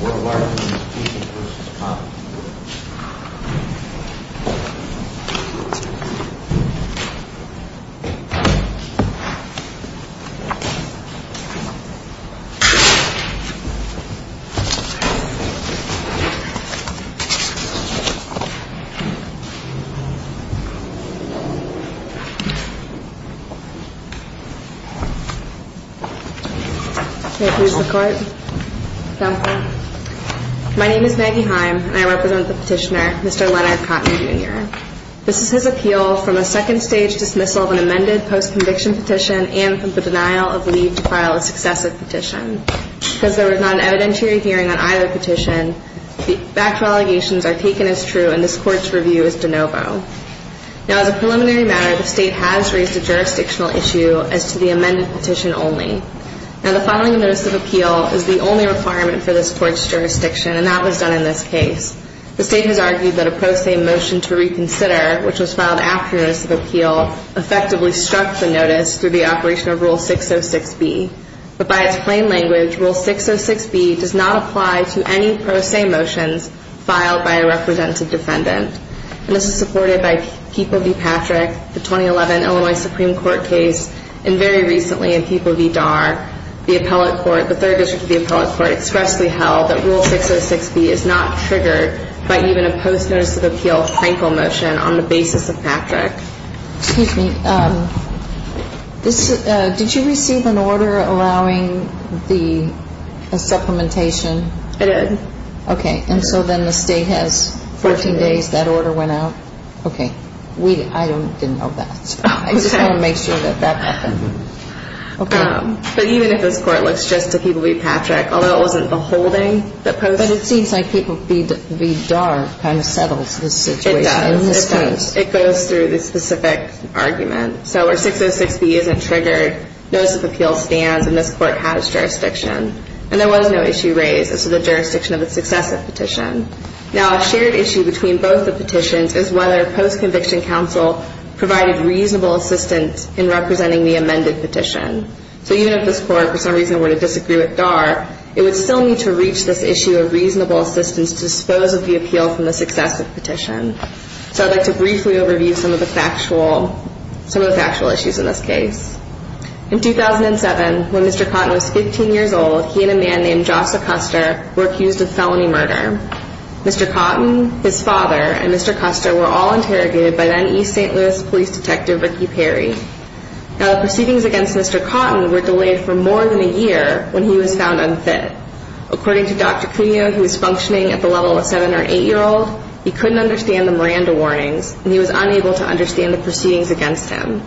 Worldwide. Three parts. Is the guy who is the guy who My name is Maggie Heim and I represent the petitioner, Mr. Leonard Cotton, Jr. This is his appeal from a second stage dismissal of an amended post-conviction petition and from the denial of leave to file a successive petition. Because there was not an evidentiary hearing on either petition, the actual allegations are taken as true and this court's review is de novo. Now as a preliminary matter, the state has raised a jurisdictional issue as to the amended petition only. Now the following notice of appeal is the only requirement for this court's decision and that was done in this case. The state has argued that a pro se motion to reconsider, which was filed after notice of appeal, effectively struck the notice through the operation of rule 606B, but by its plain language, rule 606B does not apply to any pro se motions filed by a representative defendant. And this is supported by Keeple v. Patrick, the 2011 Illinois Supreme Court case, and very recently in Keeple v. Darr, the appellate court, the third district of the appellate court expressly held that rule 606B is not triggered by even a post-notice of appeal Frankel motion on the basis of Patrick. Excuse me. Um, this, uh, did you receive an order allowing the supplementation? I did. Okay. And so then the state has 14 days, that order went out. Okay. We, I don't, didn't know that. I just want to make sure that that happened. Okay. But even if this court looks just to Keeple v. Patrick, although it wasn't the holding that posed. But it seems like Keeple v. Darr kind of settles this situation. It does. In this case. It goes through the specific argument. So where 606B isn't triggered, notice of appeal stands, and this court has jurisdiction, and there was no issue raised as to the jurisdiction of a successive petition. Now, a shared issue between both the petitions is whether post-conviction counsel provided reasonable assistance in representing the amended petition. So even if this court, for some reason, were to disagree with Darr, it would still need to reach this issue of reasonable assistance to dispose of the appeal from the successive petition. So I'd like to briefly overview some of the factual, some of the factual issues in this case. In 2007, when Mr. Cotton was 15 years old, he and a man named Jossa Custer were accused of felony murder. Mr. Cotton, his father, and Mr. Custer were all interrogated by then East St. Louis police detective, Ricky Perry. Now, the proceedings against Mr. Cotton were delayed for more than a year when he was found unfit. According to Dr. Cuno, who was functioning at the level of seven or eight year old, he couldn't understand the Miranda warnings and he was unable to understand the proceedings against him.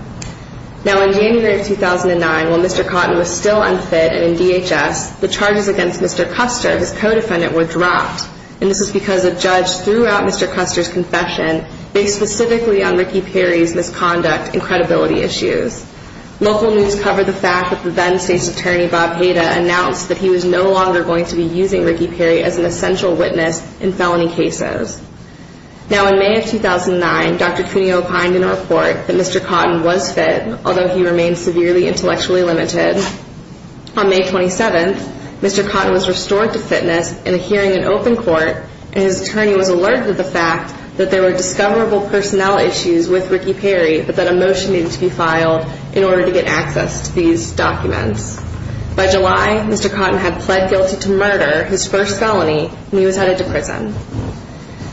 Now, in January of 2009, while Mr. Cotton was still unfit and in DHS, the charges against Mr. Custer, his co-defendant, were dropped, and this is because a judge threw out Mr. Custer's confession based specifically on Ricky Perry's misconduct and credibility issues. Local news covered the fact that the then state's attorney, Bob Heda, announced that he was no longer going to be using Ricky Perry as an essential witness in felony cases. Now, in May of 2009, Dr. Cuno opined in a report that Mr. Cotton was fit, although he remained severely intellectually limited. On May 27th, Mr. Cotton was restored to fitness in a hearing in open court, and his attorney was alerted to the fact that there were discoverable personnel issues with Ricky Perry that needed to be filed in order to get access to these documents. By July, Mr. Cotton had pled guilty to murder, his first felony, and he was headed to prison.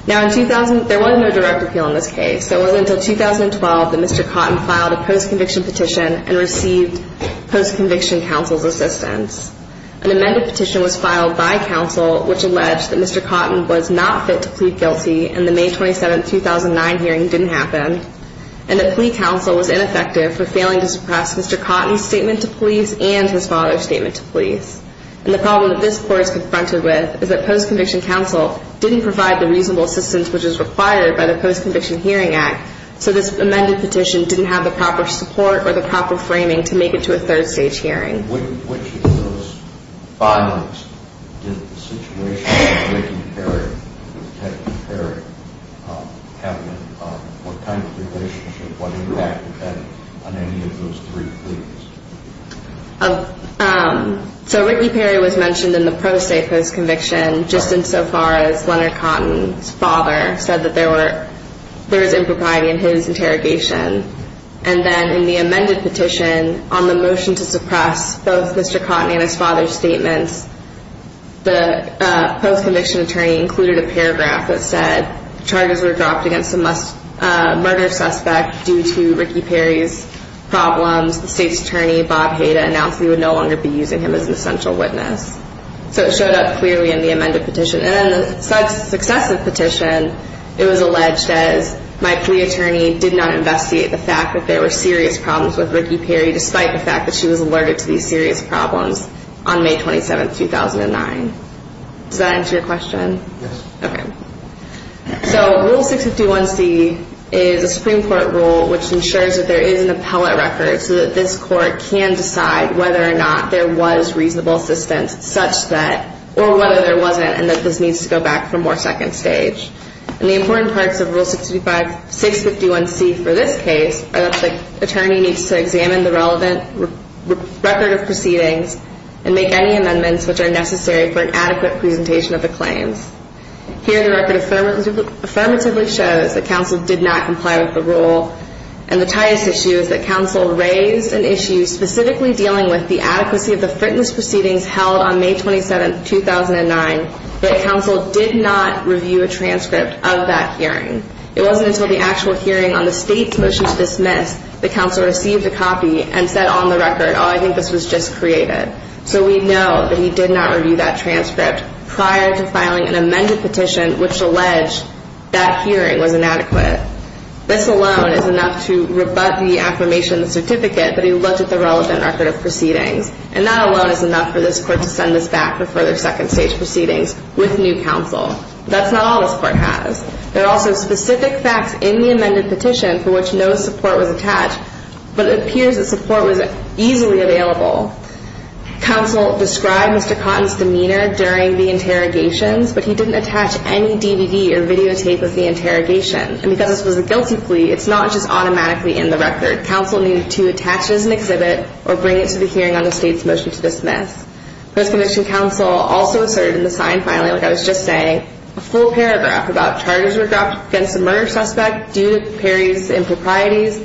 Now, in 2000, there was no direct appeal in this case. It wasn't until 2012 that Mr. Cotton filed a post-conviction petition and received post-conviction counsel's assistance. An amended petition was filed by counsel, which alleged that Mr. Cotton was not fit to plead guilty, and the May 27th, 2009 hearing didn't happen, and the plea counsel was ineffective for failing to suppress Mr. Cotton's statement to police and his father's statement to police. And the problem that this court is confronted with is that post-conviction counsel didn't provide the reasonable assistance which is required by the Post-Conviction Hearing Act, so this amended petition didn't have the proper support or the proper framing to make it to a third stage hearing. In which of those filings did the situation with Ricky Perry, with Teddy Perry, happen, what kind of relationship, what impact did that have on any of those three pleads? So, Ricky Perry was mentioned in the pro se post-conviction just insofar as Leonard Cotton's father said that there was impropriety in his interrogation. And then in the amended petition, on the motion to suppress both Mr. Cotton and his father's statements, the post-conviction attorney included a paragraph that said, charges were dropped against a murder suspect due to Ricky Perry's problems. The state's attorney, Bob Hayda, announced he would no longer be using him as an essential witness. So it showed up clearly in the amended petition. And in the successive petition, it was alleged as, my plea attorney did not investigate the fact that there were serious problems with Ricky Perry, despite the fact that she was alerted to these serious problems on May 27, 2009. Does that answer your question? Yes. Okay. So, Rule 651C is a Supreme Court rule which ensures that there is an appellate record so that this court can decide whether or not there was reasonable assistance, such that, or whether there wasn't, and that this needs to go back for more second stage. And the important parts of Rule 651C for this case are that the attorney needs to examine the relevant record of proceedings and make any amendments which are necessary for an adequate presentation of the claims. Here, the record affirmatively shows that counsel did not comply with the rule. And the tightest issue is that counsel raised an issue specifically dealing with the adequacy of the fitness proceedings held on May 27, 2009, that counsel did not review a transcript of that hearing. It wasn't until the actual hearing on the state's motion to dismiss that counsel received a copy and said on the record, oh, I think this was just created. So we know that he did not review that transcript prior to filing an amended petition which alleged that hearing was inadequate. This alone is enough to rebut the affirmation of the certificate that he looked at the relevant record of proceedings. And that alone is enough for this court to send this back for further second stage proceedings with new counsel. That's not all this court has. There are also specific facts in the amended petition for which no support was attached, but it appears that support was easily available. Counsel described Mr. Cotton's demeanor during the interrogations, but he didn't attach any DVD or videotape of the interrogation. And because this was a guilty plea, it's not just automatically in the record. Counsel needed to attach it as an exhibit or bring it to the hearing on the state's motion to dismiss. Post-condition counsel also asserted in the signed filing, like I was just saying, a full paragraph about charges were dropped against the murder suspect due to Perry's improprieties.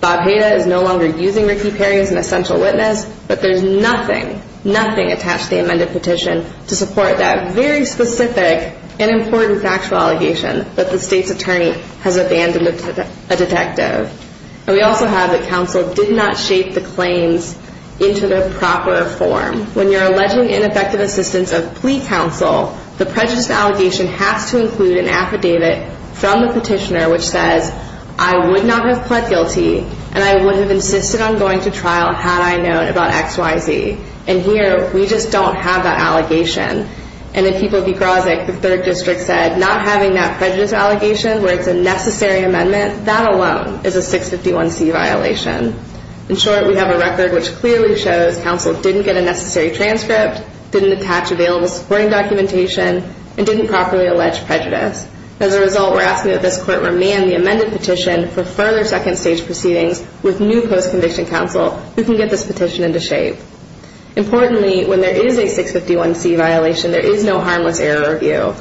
Bob Hayda is no longer using Ricky Perry as an essential witness, but there's nothing, nothing attached to the amended petition to support that very specific and important factual allegation that the state's attorney has abandoned a detective. And we also have that counsel did not shape the claims into the proper form, when you're alleging ineffective assistance of plea counsel, the prejudice allegation has to include an affidavit from the petitioner, which says, I would not have pled guilty and I would have insisted on going to trial had I known about X, Y, Z. And here, we just don't have that allegation. And in People v. Groszak, the third district said, not having that prejudice allegation where it's a necessary amendment, that alone is a 651C violation. In short, we have a record which clearly shows counsel didn't get a necessary transcript, didn't attach available spring documentation, and didn't properly allege prejudice. As a result, we're asking that this court remand the amended petition for further second stage proceedings with new post-conviction counsel who can get this petition into shape. Importantly, when there is a 651C violation, there is no harmless error review.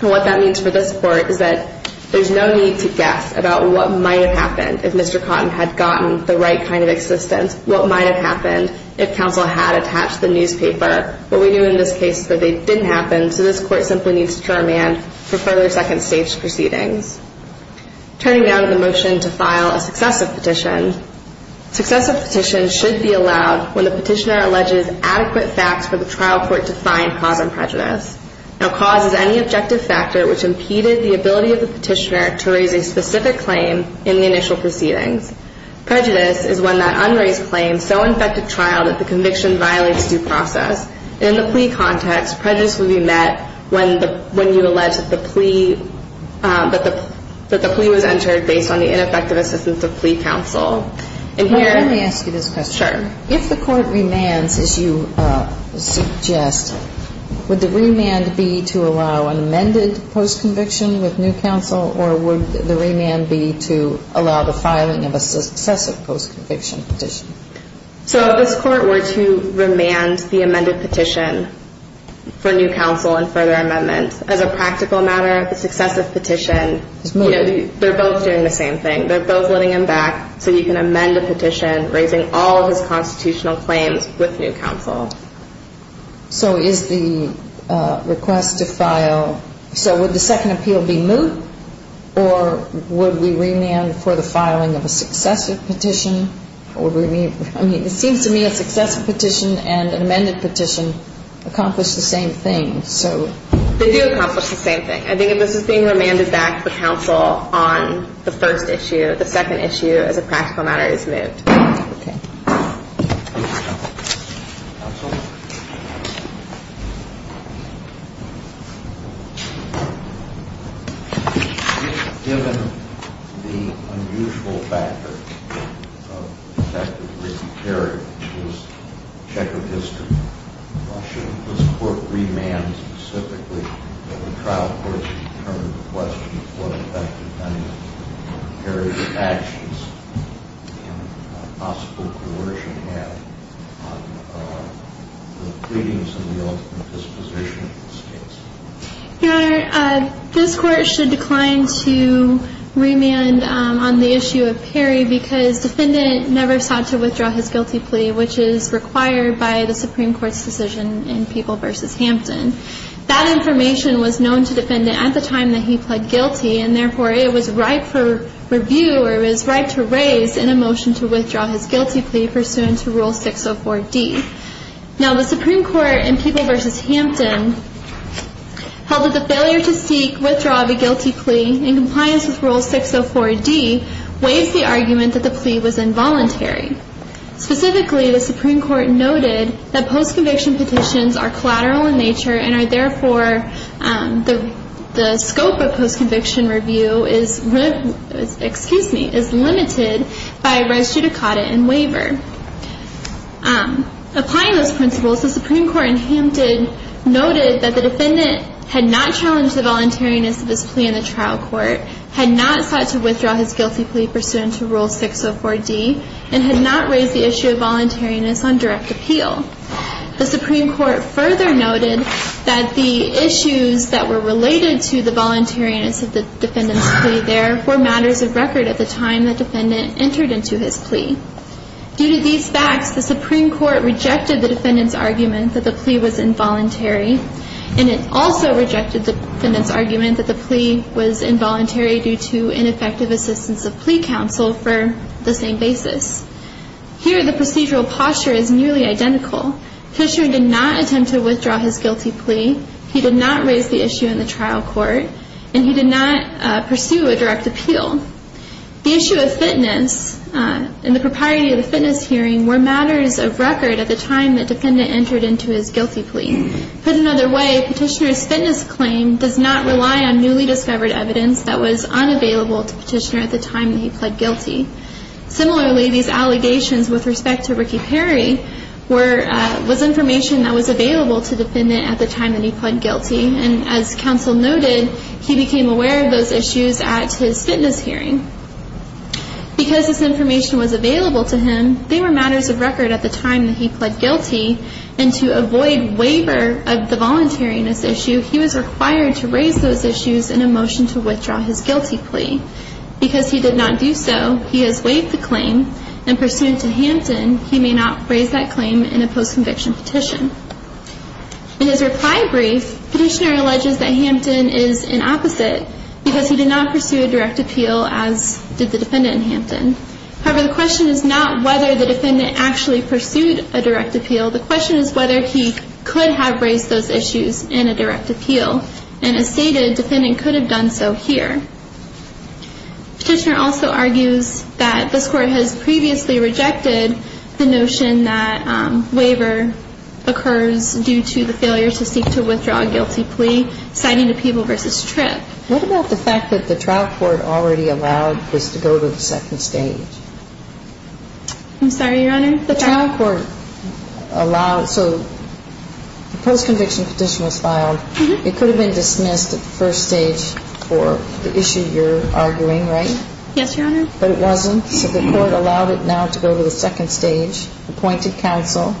And what that means for this court is that there's no need to guess about what might have happened if Mr. Cotton had gotten the right kind of newspaper. But we knew in this case that they didn't happen, so this court simply needs to remand for further second stage proceedings. Turning now to the motion to file a successive petition. Successive petitions should be allowed when the petitioner alleges adequate facts for the trial court to find cause and prejudice. Now, cause is any objective factor which impeded the ability of the petitioner to raise a specific claim in the initial proceedings. Prejudice is when that unraised claim so infected trial that the conviction violates due process. In the plea context, prejudice will be met when you allege that the plea was entered based on the ineffective assistance of plea counsel. And here... Let me ask you this question. Sure. If the court remands, as you suggest, would the remand be to allow an amended post-conviction with new counsel or would the remand be to allow the filing of a successive post-conviction petition? So, if this court were to remand the amended petition for new counsel and further amendment, as a practical matter, the successive petition... It's moved. They're both doing the same thing. They're both letting him back so you can amend a petition raising all of his constitutional claims with new counsel. So, is the request to file... So, would the second appeal be moved or would we remand for the filing of a I mean, it seems to me a successive petition and an amended petition accomplish the same thing. So... They do accomplish the same thing. I think if this is being remanded back to the counsel on the first issue, the second issue, as a practical matter, it's moved. Okay. Your Honor, this court should decline to remand on the issue of Perry because defendant never sought to withdraw his guilty plea, which is required by the Supreme Court's decision in People v. Hampton. That information was known to defendant at the time that he pled guilty and therefore, it was right for review or it was right to raise in a motion to withdraw his guilty plea pursuant to Rule 604D. Now, the Supreme Court in People v. Hampton held that the failure to seek withdrawal of a guilty plea in compliance with Rule 604D weighs the plea was involuntary. Specifically, the Supreme Court noted that post-conviction petitions are collateral in nature and are therefore... The scope of post-conviction review is limited by res judicata and waiver. Applying those principles, the Supreme Court in Hampton noted that the defendant had not challenged the voluntariness of his plea in the trial had not sought to withdraw his guilty plea pursuant to Rule 604D and had not raised the issue of voluntariness on direct appeal. The Supreme Court further noted that the issues that were related to the voluntariness of the defendant's plea there were matters of record at the time the defendant entered into his plea. Due to these facts, the Supreme Court rejected the defendant's argument that the plea was involuntary and it also rejected the defendant's argument that the plea was involuntary due to ineffective assistance of plea counsel for the same basis. Here, the procedural posture is nearly identical. Petitioner did not attempt to withdraw his guilty plea, he did not raise the issue in the trial court, and he did not pursue a direct appeal. The issue of fitness and the propriety of the fitness hearing were matters of record at the time the defendant entered into his guilty plea. Put another way, Petitioner's fitness claim does not rely on newly discovered evidence that was unavailable to Petitioner at the time that he pled guilty. Similarly, these allegations with respect to Ricky Perry was information that was available to the defendant at the time that he pled guilty, and as counsel noted, he became aware of those issues at his fitness hearing. Because this information was available to him, they were matters of record at the time that he pled guilty, and to avoid waiver of the voluntariness issue, he was required to raise those issues in a motion to withdraw his guilty plea. Because he did not do so, he has waived the claim, and pursuant to Hampton, he may not raise that claim in a post-conviction petition. In his reply brief, Petitioner alleges that Hampton is an opposite because he did not pursue a direct appeal as did the defendant in Hampton. However, the question is not whether the defendant actually pursued a direct appeal. The question is whether he could have raised those issues in a direct appeal, and as stated, the defendant could have done so here. Petitioner also argues that this Court has previously rejected the notion that waiver occurs due to the failure to seek to withdraw a guilty plea, citing a Peeble v. Tripp. What about the fact that the trial court already allowed this to go to the second stage? I'm sorry, Your Honor? The trial court allowed, so the post-conviction petition was filed. It could have been dismissed at the first stage for the issue you're arguing, right? Yes, Your Honor. But it wasn't, so the court allowed it now to go to the second stage, appointed counsel,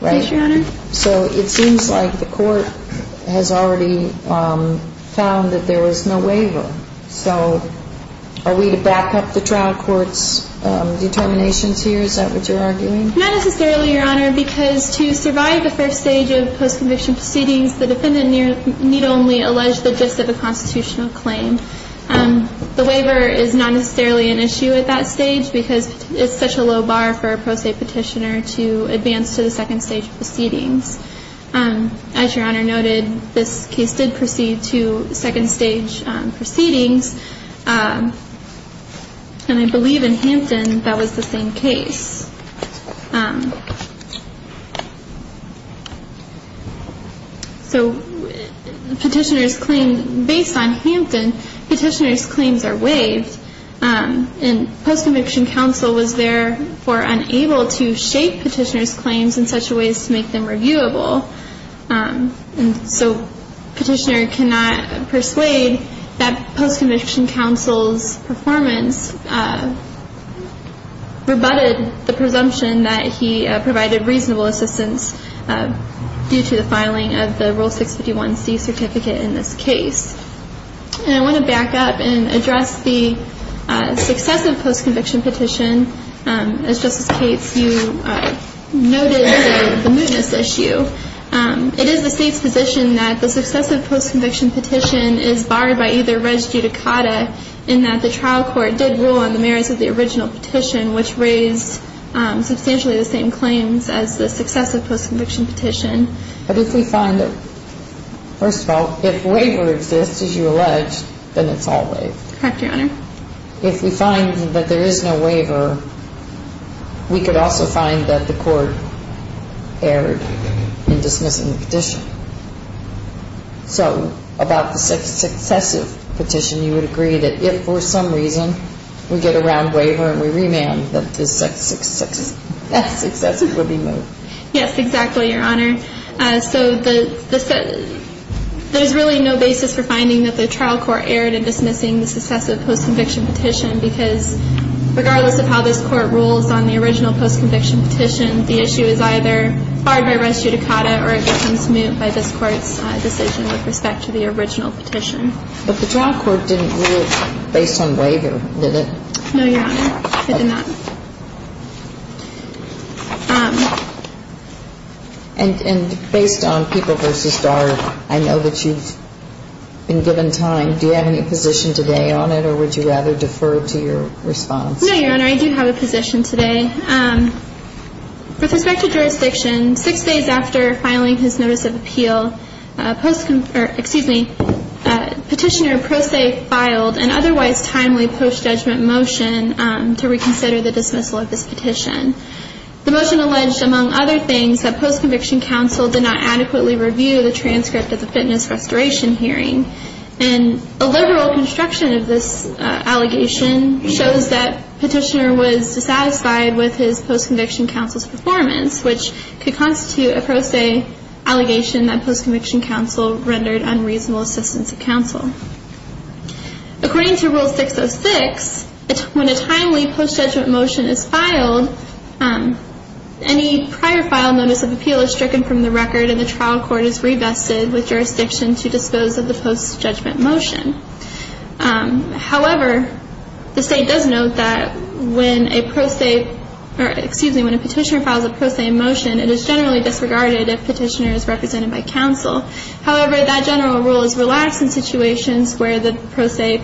right? Yes, Your Honor. So it seems like the court has already found that there was no waiver. So are we to back up the trial court's determinations here? Is that what you're arguing? Not necessarily, Your Honor, because to survive the first stage of post-conviction proceedings, the defendant need only allege the gist of a constitutional claim. The waiver is not necessarily an issue at that stage because it's such a low bar for a pro se petitioner to advance to the second stage of proceedings. As Your Honor noted, this case did proceed to second stage proceedings. And I believe in Hampton, that was the same case. So the petitioner's claim, based on Hampton, petitioner's claims are waived. And post-conviction counsel was therefore unable to shape petitioner's claims in such a way as to make them reviewable. And so petitioner cannot persuade that post-conviction counsel's performance rebutted the presumption that he provided reasonable assistance due to the filing of the Rule 651C certificate in this case. And I want to back up and address the successive post-conviction petition. As Justice Cates, you noted the mootness issue. It is the State's position that the successive post-conviction petition is barred by either res judicata in that the trial court did rule on the merits of the original petition, which raised substantially the same claims as the successive post-conviction petition. But if we find that, first of all, if waiver exists, as you alleged, then it's all waived. Correct, Your Honor. If we find that there is no waiver, we could also find that the court erred in dismissing the petition. So about the successive petition, you would agree that if for some reason we get a round waiver and we remand, that the successive would be moved? Yes, exactly, Your Honor. So there's really no basis for finding that the trial court erred in dismissing the successive post-conviction petition, because regardless of how this Court rules on the original post-conviction petition, the issue is either barred by res judicata or it becomes moot by this Court's decision with respect to the original petition. But the trial court didn't rule based on waiver, did it? No, Your Honor, it did not. And based on People v. Darg, I know that you've been given time. Do you have any position today on it, or would you rather defer to your response? No, Your Honor, I do have a position today. With respect to jurisdiction, six days after filing his notice of appeal, Petitioner Pro Se filed an otherwise timely post-judgment motion to reconsider the decision. The motion alleged, among other things, that post-conviction counsel did not adequately review the transcript of the fitness restoration hearing. And a liberal construction of this allegation shows that Petitioner was dissatisfied with his post-conviction counsel's performance, which could constitute a Pro Se allegation that post-conviction counsel rendered unreasonable assistance to counsel. According to Rule 606, when a timely post-judgment motion is filed, any prior file notice of appeal is stricken from the record and the trial court is revested with jurisdiction to dispose of the post-judgment motion. However, the State does note that when a Petitioner files a Pro Se motion, it is generally disregarded if Petitioner is represented by counsel. However, that general rule is relaxed in situations where the Pro Se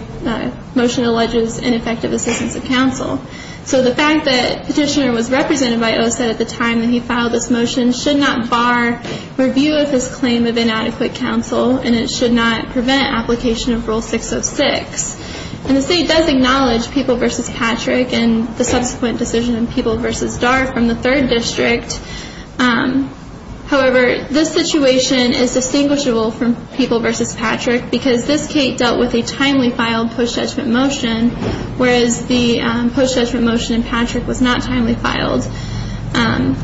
motion alleges ineffective assistance of counsel. So the fact that Petitioner was represented by OSET at the time that he filed this motion should not bar review of his claim of inadequate counsel, and it should not prevent application of Rule 606. And the State does acknowledge People v. Patrick and the subsequent decision in People v. Patrick is not distinguishable from People v. Patrick because this case dealt with a timely filed post-judgment motion, whereas the post-judgment motion in Patrick was not timely filed. And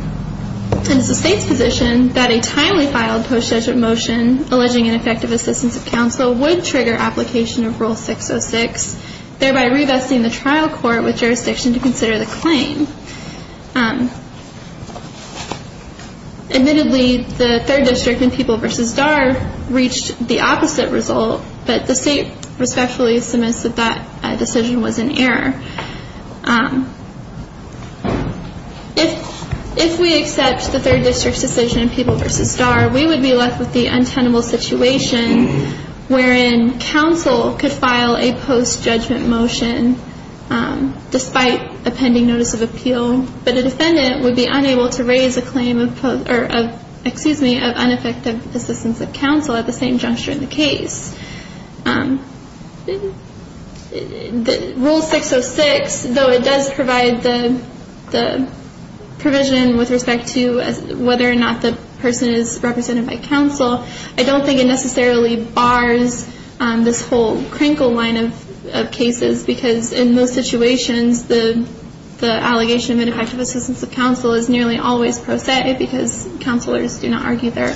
it's the State's position that a timely filed post-judgment motion alleging ineffective assistance of counsel would trigger application of Rule 606, thereby revesting the trial court with jurisdiction to consider the claim. Admittedly, the Third District in People v. Darr reached the opposite result, but the State respectfully submits that that decision was an error. If we accept the Third District's decision in People v. Darr, we would be left with the untenable situation wherein counsel could file a post-judgment motion despite a pending notice of appeal, but a defendant would be unable to raise a claim of, excuse me, of ineffective assistance of counsel at the same juncture in the case. Rule 606, though it does provide the provision with respect to whether or not the person is represented by counsel, I don't think it necessarily bars this whole Krinkle line of the allegation of ineffective assistance of counsel is nearly always prosaic because counselors do not argue their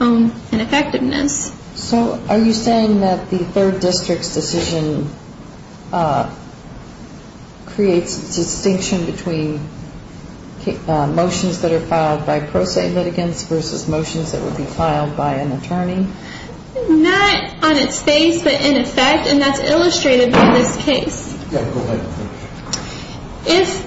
own ineffectiveness. So are you saying that the Third District's decision creates a distinction between motions that are filed by prosaic litigants versus motions that would be filed by an attorney? Not on its face, but in effect, and that's illustrated by this case. Yeah, go ahead. If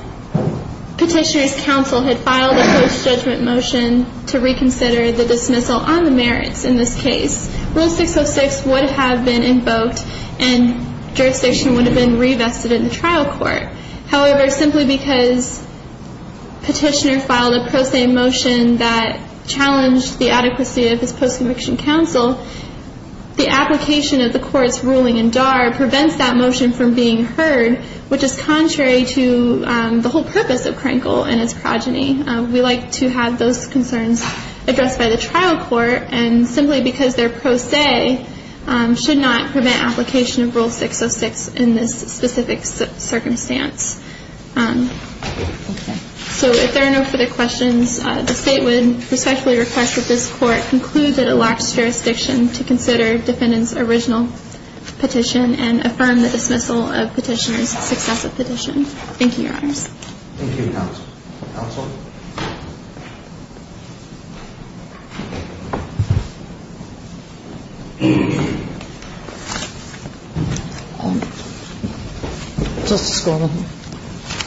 Petitioner's counsel had filed a post-judgment motion to reconsider the dismissal on the merits in this case, Rule 606 would have been invoked and jurisdiction would have been revested in the trial court. However, simply because Petitioner filed a prosaic motion that challenged the adequacy of his post-conviction counsel, the application of the court's ruling in Darr prevents that which is contrary to the whole purpose of Krinkle and its progeny. We like to have those concerns addressed by the trial court, and simply because their prosaic should not prevent application of Rule 606 in this specific circumstance. So if there are no further questions, the State would respectfully request that this Court conclude that it lacks jurisdiction to consider Defendant's original petition and affirm the dismissal of Petitioner's successive petition. Thank you, Your Honors. Thank you, Counsel. Justice Goldman.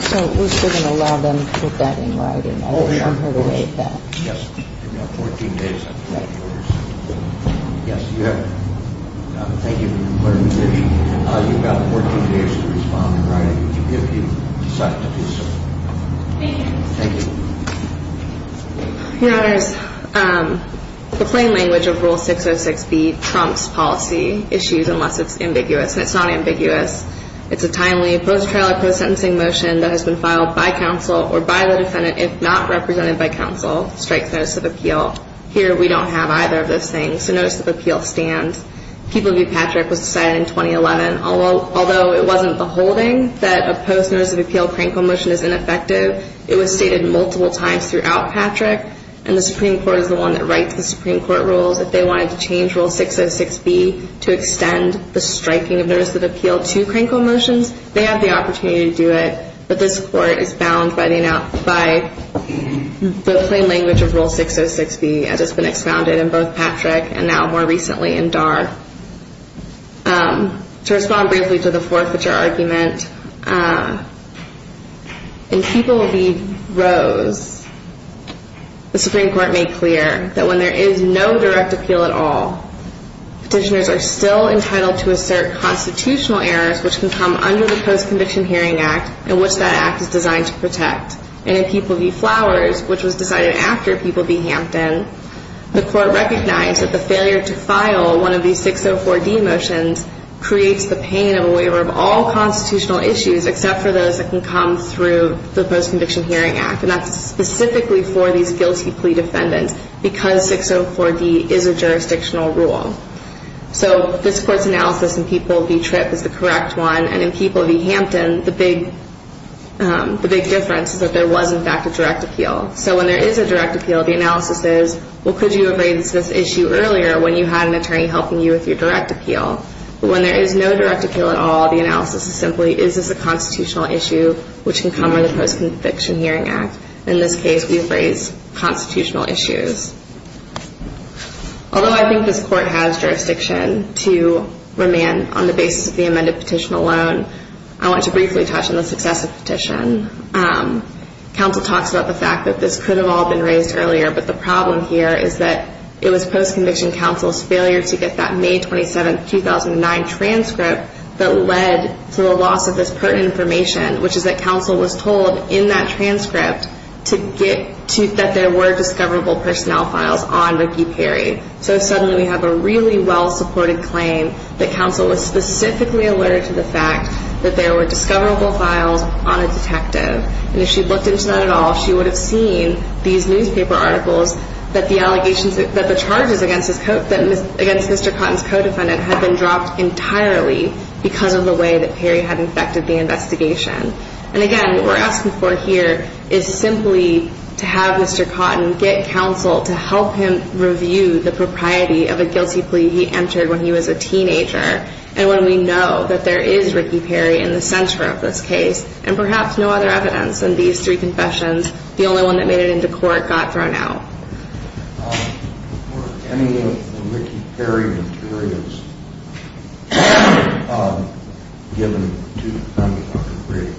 So we're still going to allow them to put that in writing. Oh, sure. Yes. We have 14 days. Yes, you have it. Thank you for your clarification. You've got 14 days to respond in writing if you decide to do so. Thank you. Thank you. Your Honors, the plain language of Rule 606B trumps policy issues unless it's ambiguous, and it's not ambiguous. It's a timely, post-trial or post-sentencing motion that has been filed by counsel or by the defendant, if not represented by counsel, strikes notice of appeal. Here, we don't have either of those things. It's a notice of appeal stand. People view Patrick was decided in 2011. Although it wasn't the holding that a post-notice of appeal crankle motion is ineffective, it was stated multiple times throughout Patrick, and the Supreme Court is the one that writes the Supreme Court rules. If they wanted to change Rule 606B to extend the striking of notice of appeal to crankle motions, they have the opportunity to do it, but this Court is bound by the plain language of Rule 606B as it's been expounded in both Patrick and now more recently in Darr. To respond briefly to the fourth feature argument, in people view Rose, the Supreme Court made clear that when there is no direct appeal at all, petitioners are still entitled to assert constitutional errors which can come under the Post-Conviction Hearing Act in which that act is designed to protect. And in people view Flowers, which was decided after people view Hampton, the Court recognized that the failure to file one of these 604D motions creates the pain of a waiver of all constitutional issues except for those that can come through the Post-Conviction Hearing Act, and that's specifically for these guilty plea defendants because 604D is a jurisdictional rule. So this Court's analysis in people view Trip is the correct one, and in people view Hampton, the big difference is that there was, in fact, a direct appeal. So when there is a direct appeal, the analysis is, well, could you have raised this issue earlier when you had an attorney helping you with your direct appeal? But when there is no direct appeal at all, the analysis is simply, is this a constitutional issue which can come under the Post-Conviction Hearing Act? In this case, we've raised constitutional issues. Although I think this Court has jurisdiction to remand on the basis of the amended petition alone, I want to briefly touch on the successive petition. Counsel talks about the fact that this could have all been raised earlier, but the problem here is that it was Post-Conviction Counsel's failure to get that May 27, 2009 transcript that led to the loss of this pertinent information, which is that counsel was told in that transcript to get to, that there were discoverable personnel files on Ricky Perry. So suddenly we have a really well-supported claim that counsel was specifically alerted to the fact that there were discoverable files on a detective. And if she'd looked into that at all, she would have seen these newspaper articles that the allegations, that the charges against Mr. Cotton's co-defendant had been dropped entirely because of the way that Perry had infected the investigation. And again, what we're asking for here is simply to have Mr. Cotton get counsel to help him review the propriety of a guilty plea he entered when he was a teenager, and when we know that there is Ricky Perry in the center of this case, and perhaps no other evidence in these three confessions, the only one that made it into court got thrown out. Were any of the Ricky Perry materials given to the defendant, Dr. Perry?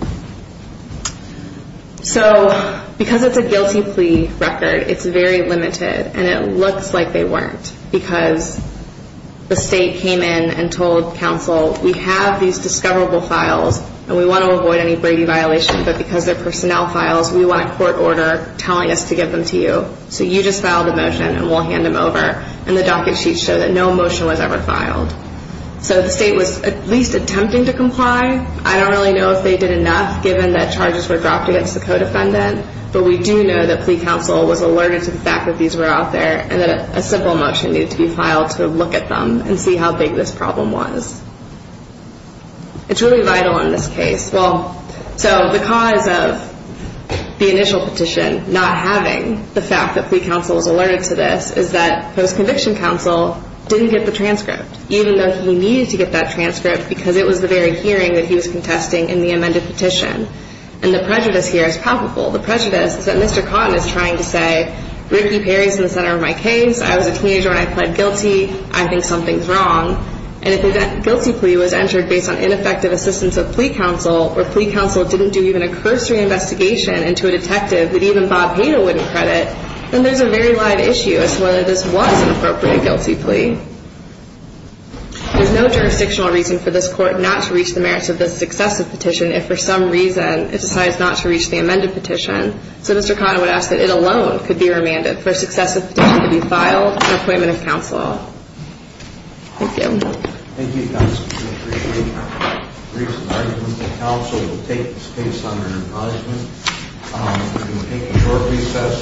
So because it's a guilty plea record, it's very limited, and it looks like they weren't because the state came in and told counsel, we have these discoverable files, and we want to avoid any Brady violation, but because they're personnel files, we want a court order telling us to give them to you. So you just filed a motion, and we'll hand them over. And the docket sheets show that no motion was ever filed. So the state was at least attempting to comply. I don't really know if they did enough, given that charges were dropped against the co-defendant, but we do know that plea counsel was alerted to the fact that these were out there, and that a simple motion needed to be filed to look at them and see how big this problem was. It's really vital in this case. Well, so the cause of the initial petition not having the fact that plea counsel was alerted to this is that post-conviction counsel didn't get the transcript, even though he needed to get that transcript because it was the very hearing that he was contesting in the amended petition. And the prejudice here is palpable. The prejudice is that Mr. Cotton is trying to say, Ricky Perry's in the center of my case. I was a teenager when I pled guilty. I think something's wrong. And if a guilty plea was entered based on ineffective assistance of plea counsel or plea counsel didn't do even a cursory investigation into a detective that even Bob Pato wouldn't credit, then there's a very live issue as to whether this was an appropriate guilty plea. There's no jurisdictional reason for this court not to reach the merits of this successive petition if for some reason it decides not to reach the amended petition. So Mr. Cotton would ask that it alone could be remanded for a successive petition to be filed and appointment of counsel. Thank you. Thank you, Constance. We appreciate your briefs and arguments. And counsel will take this case under advisement. We will take a short recess.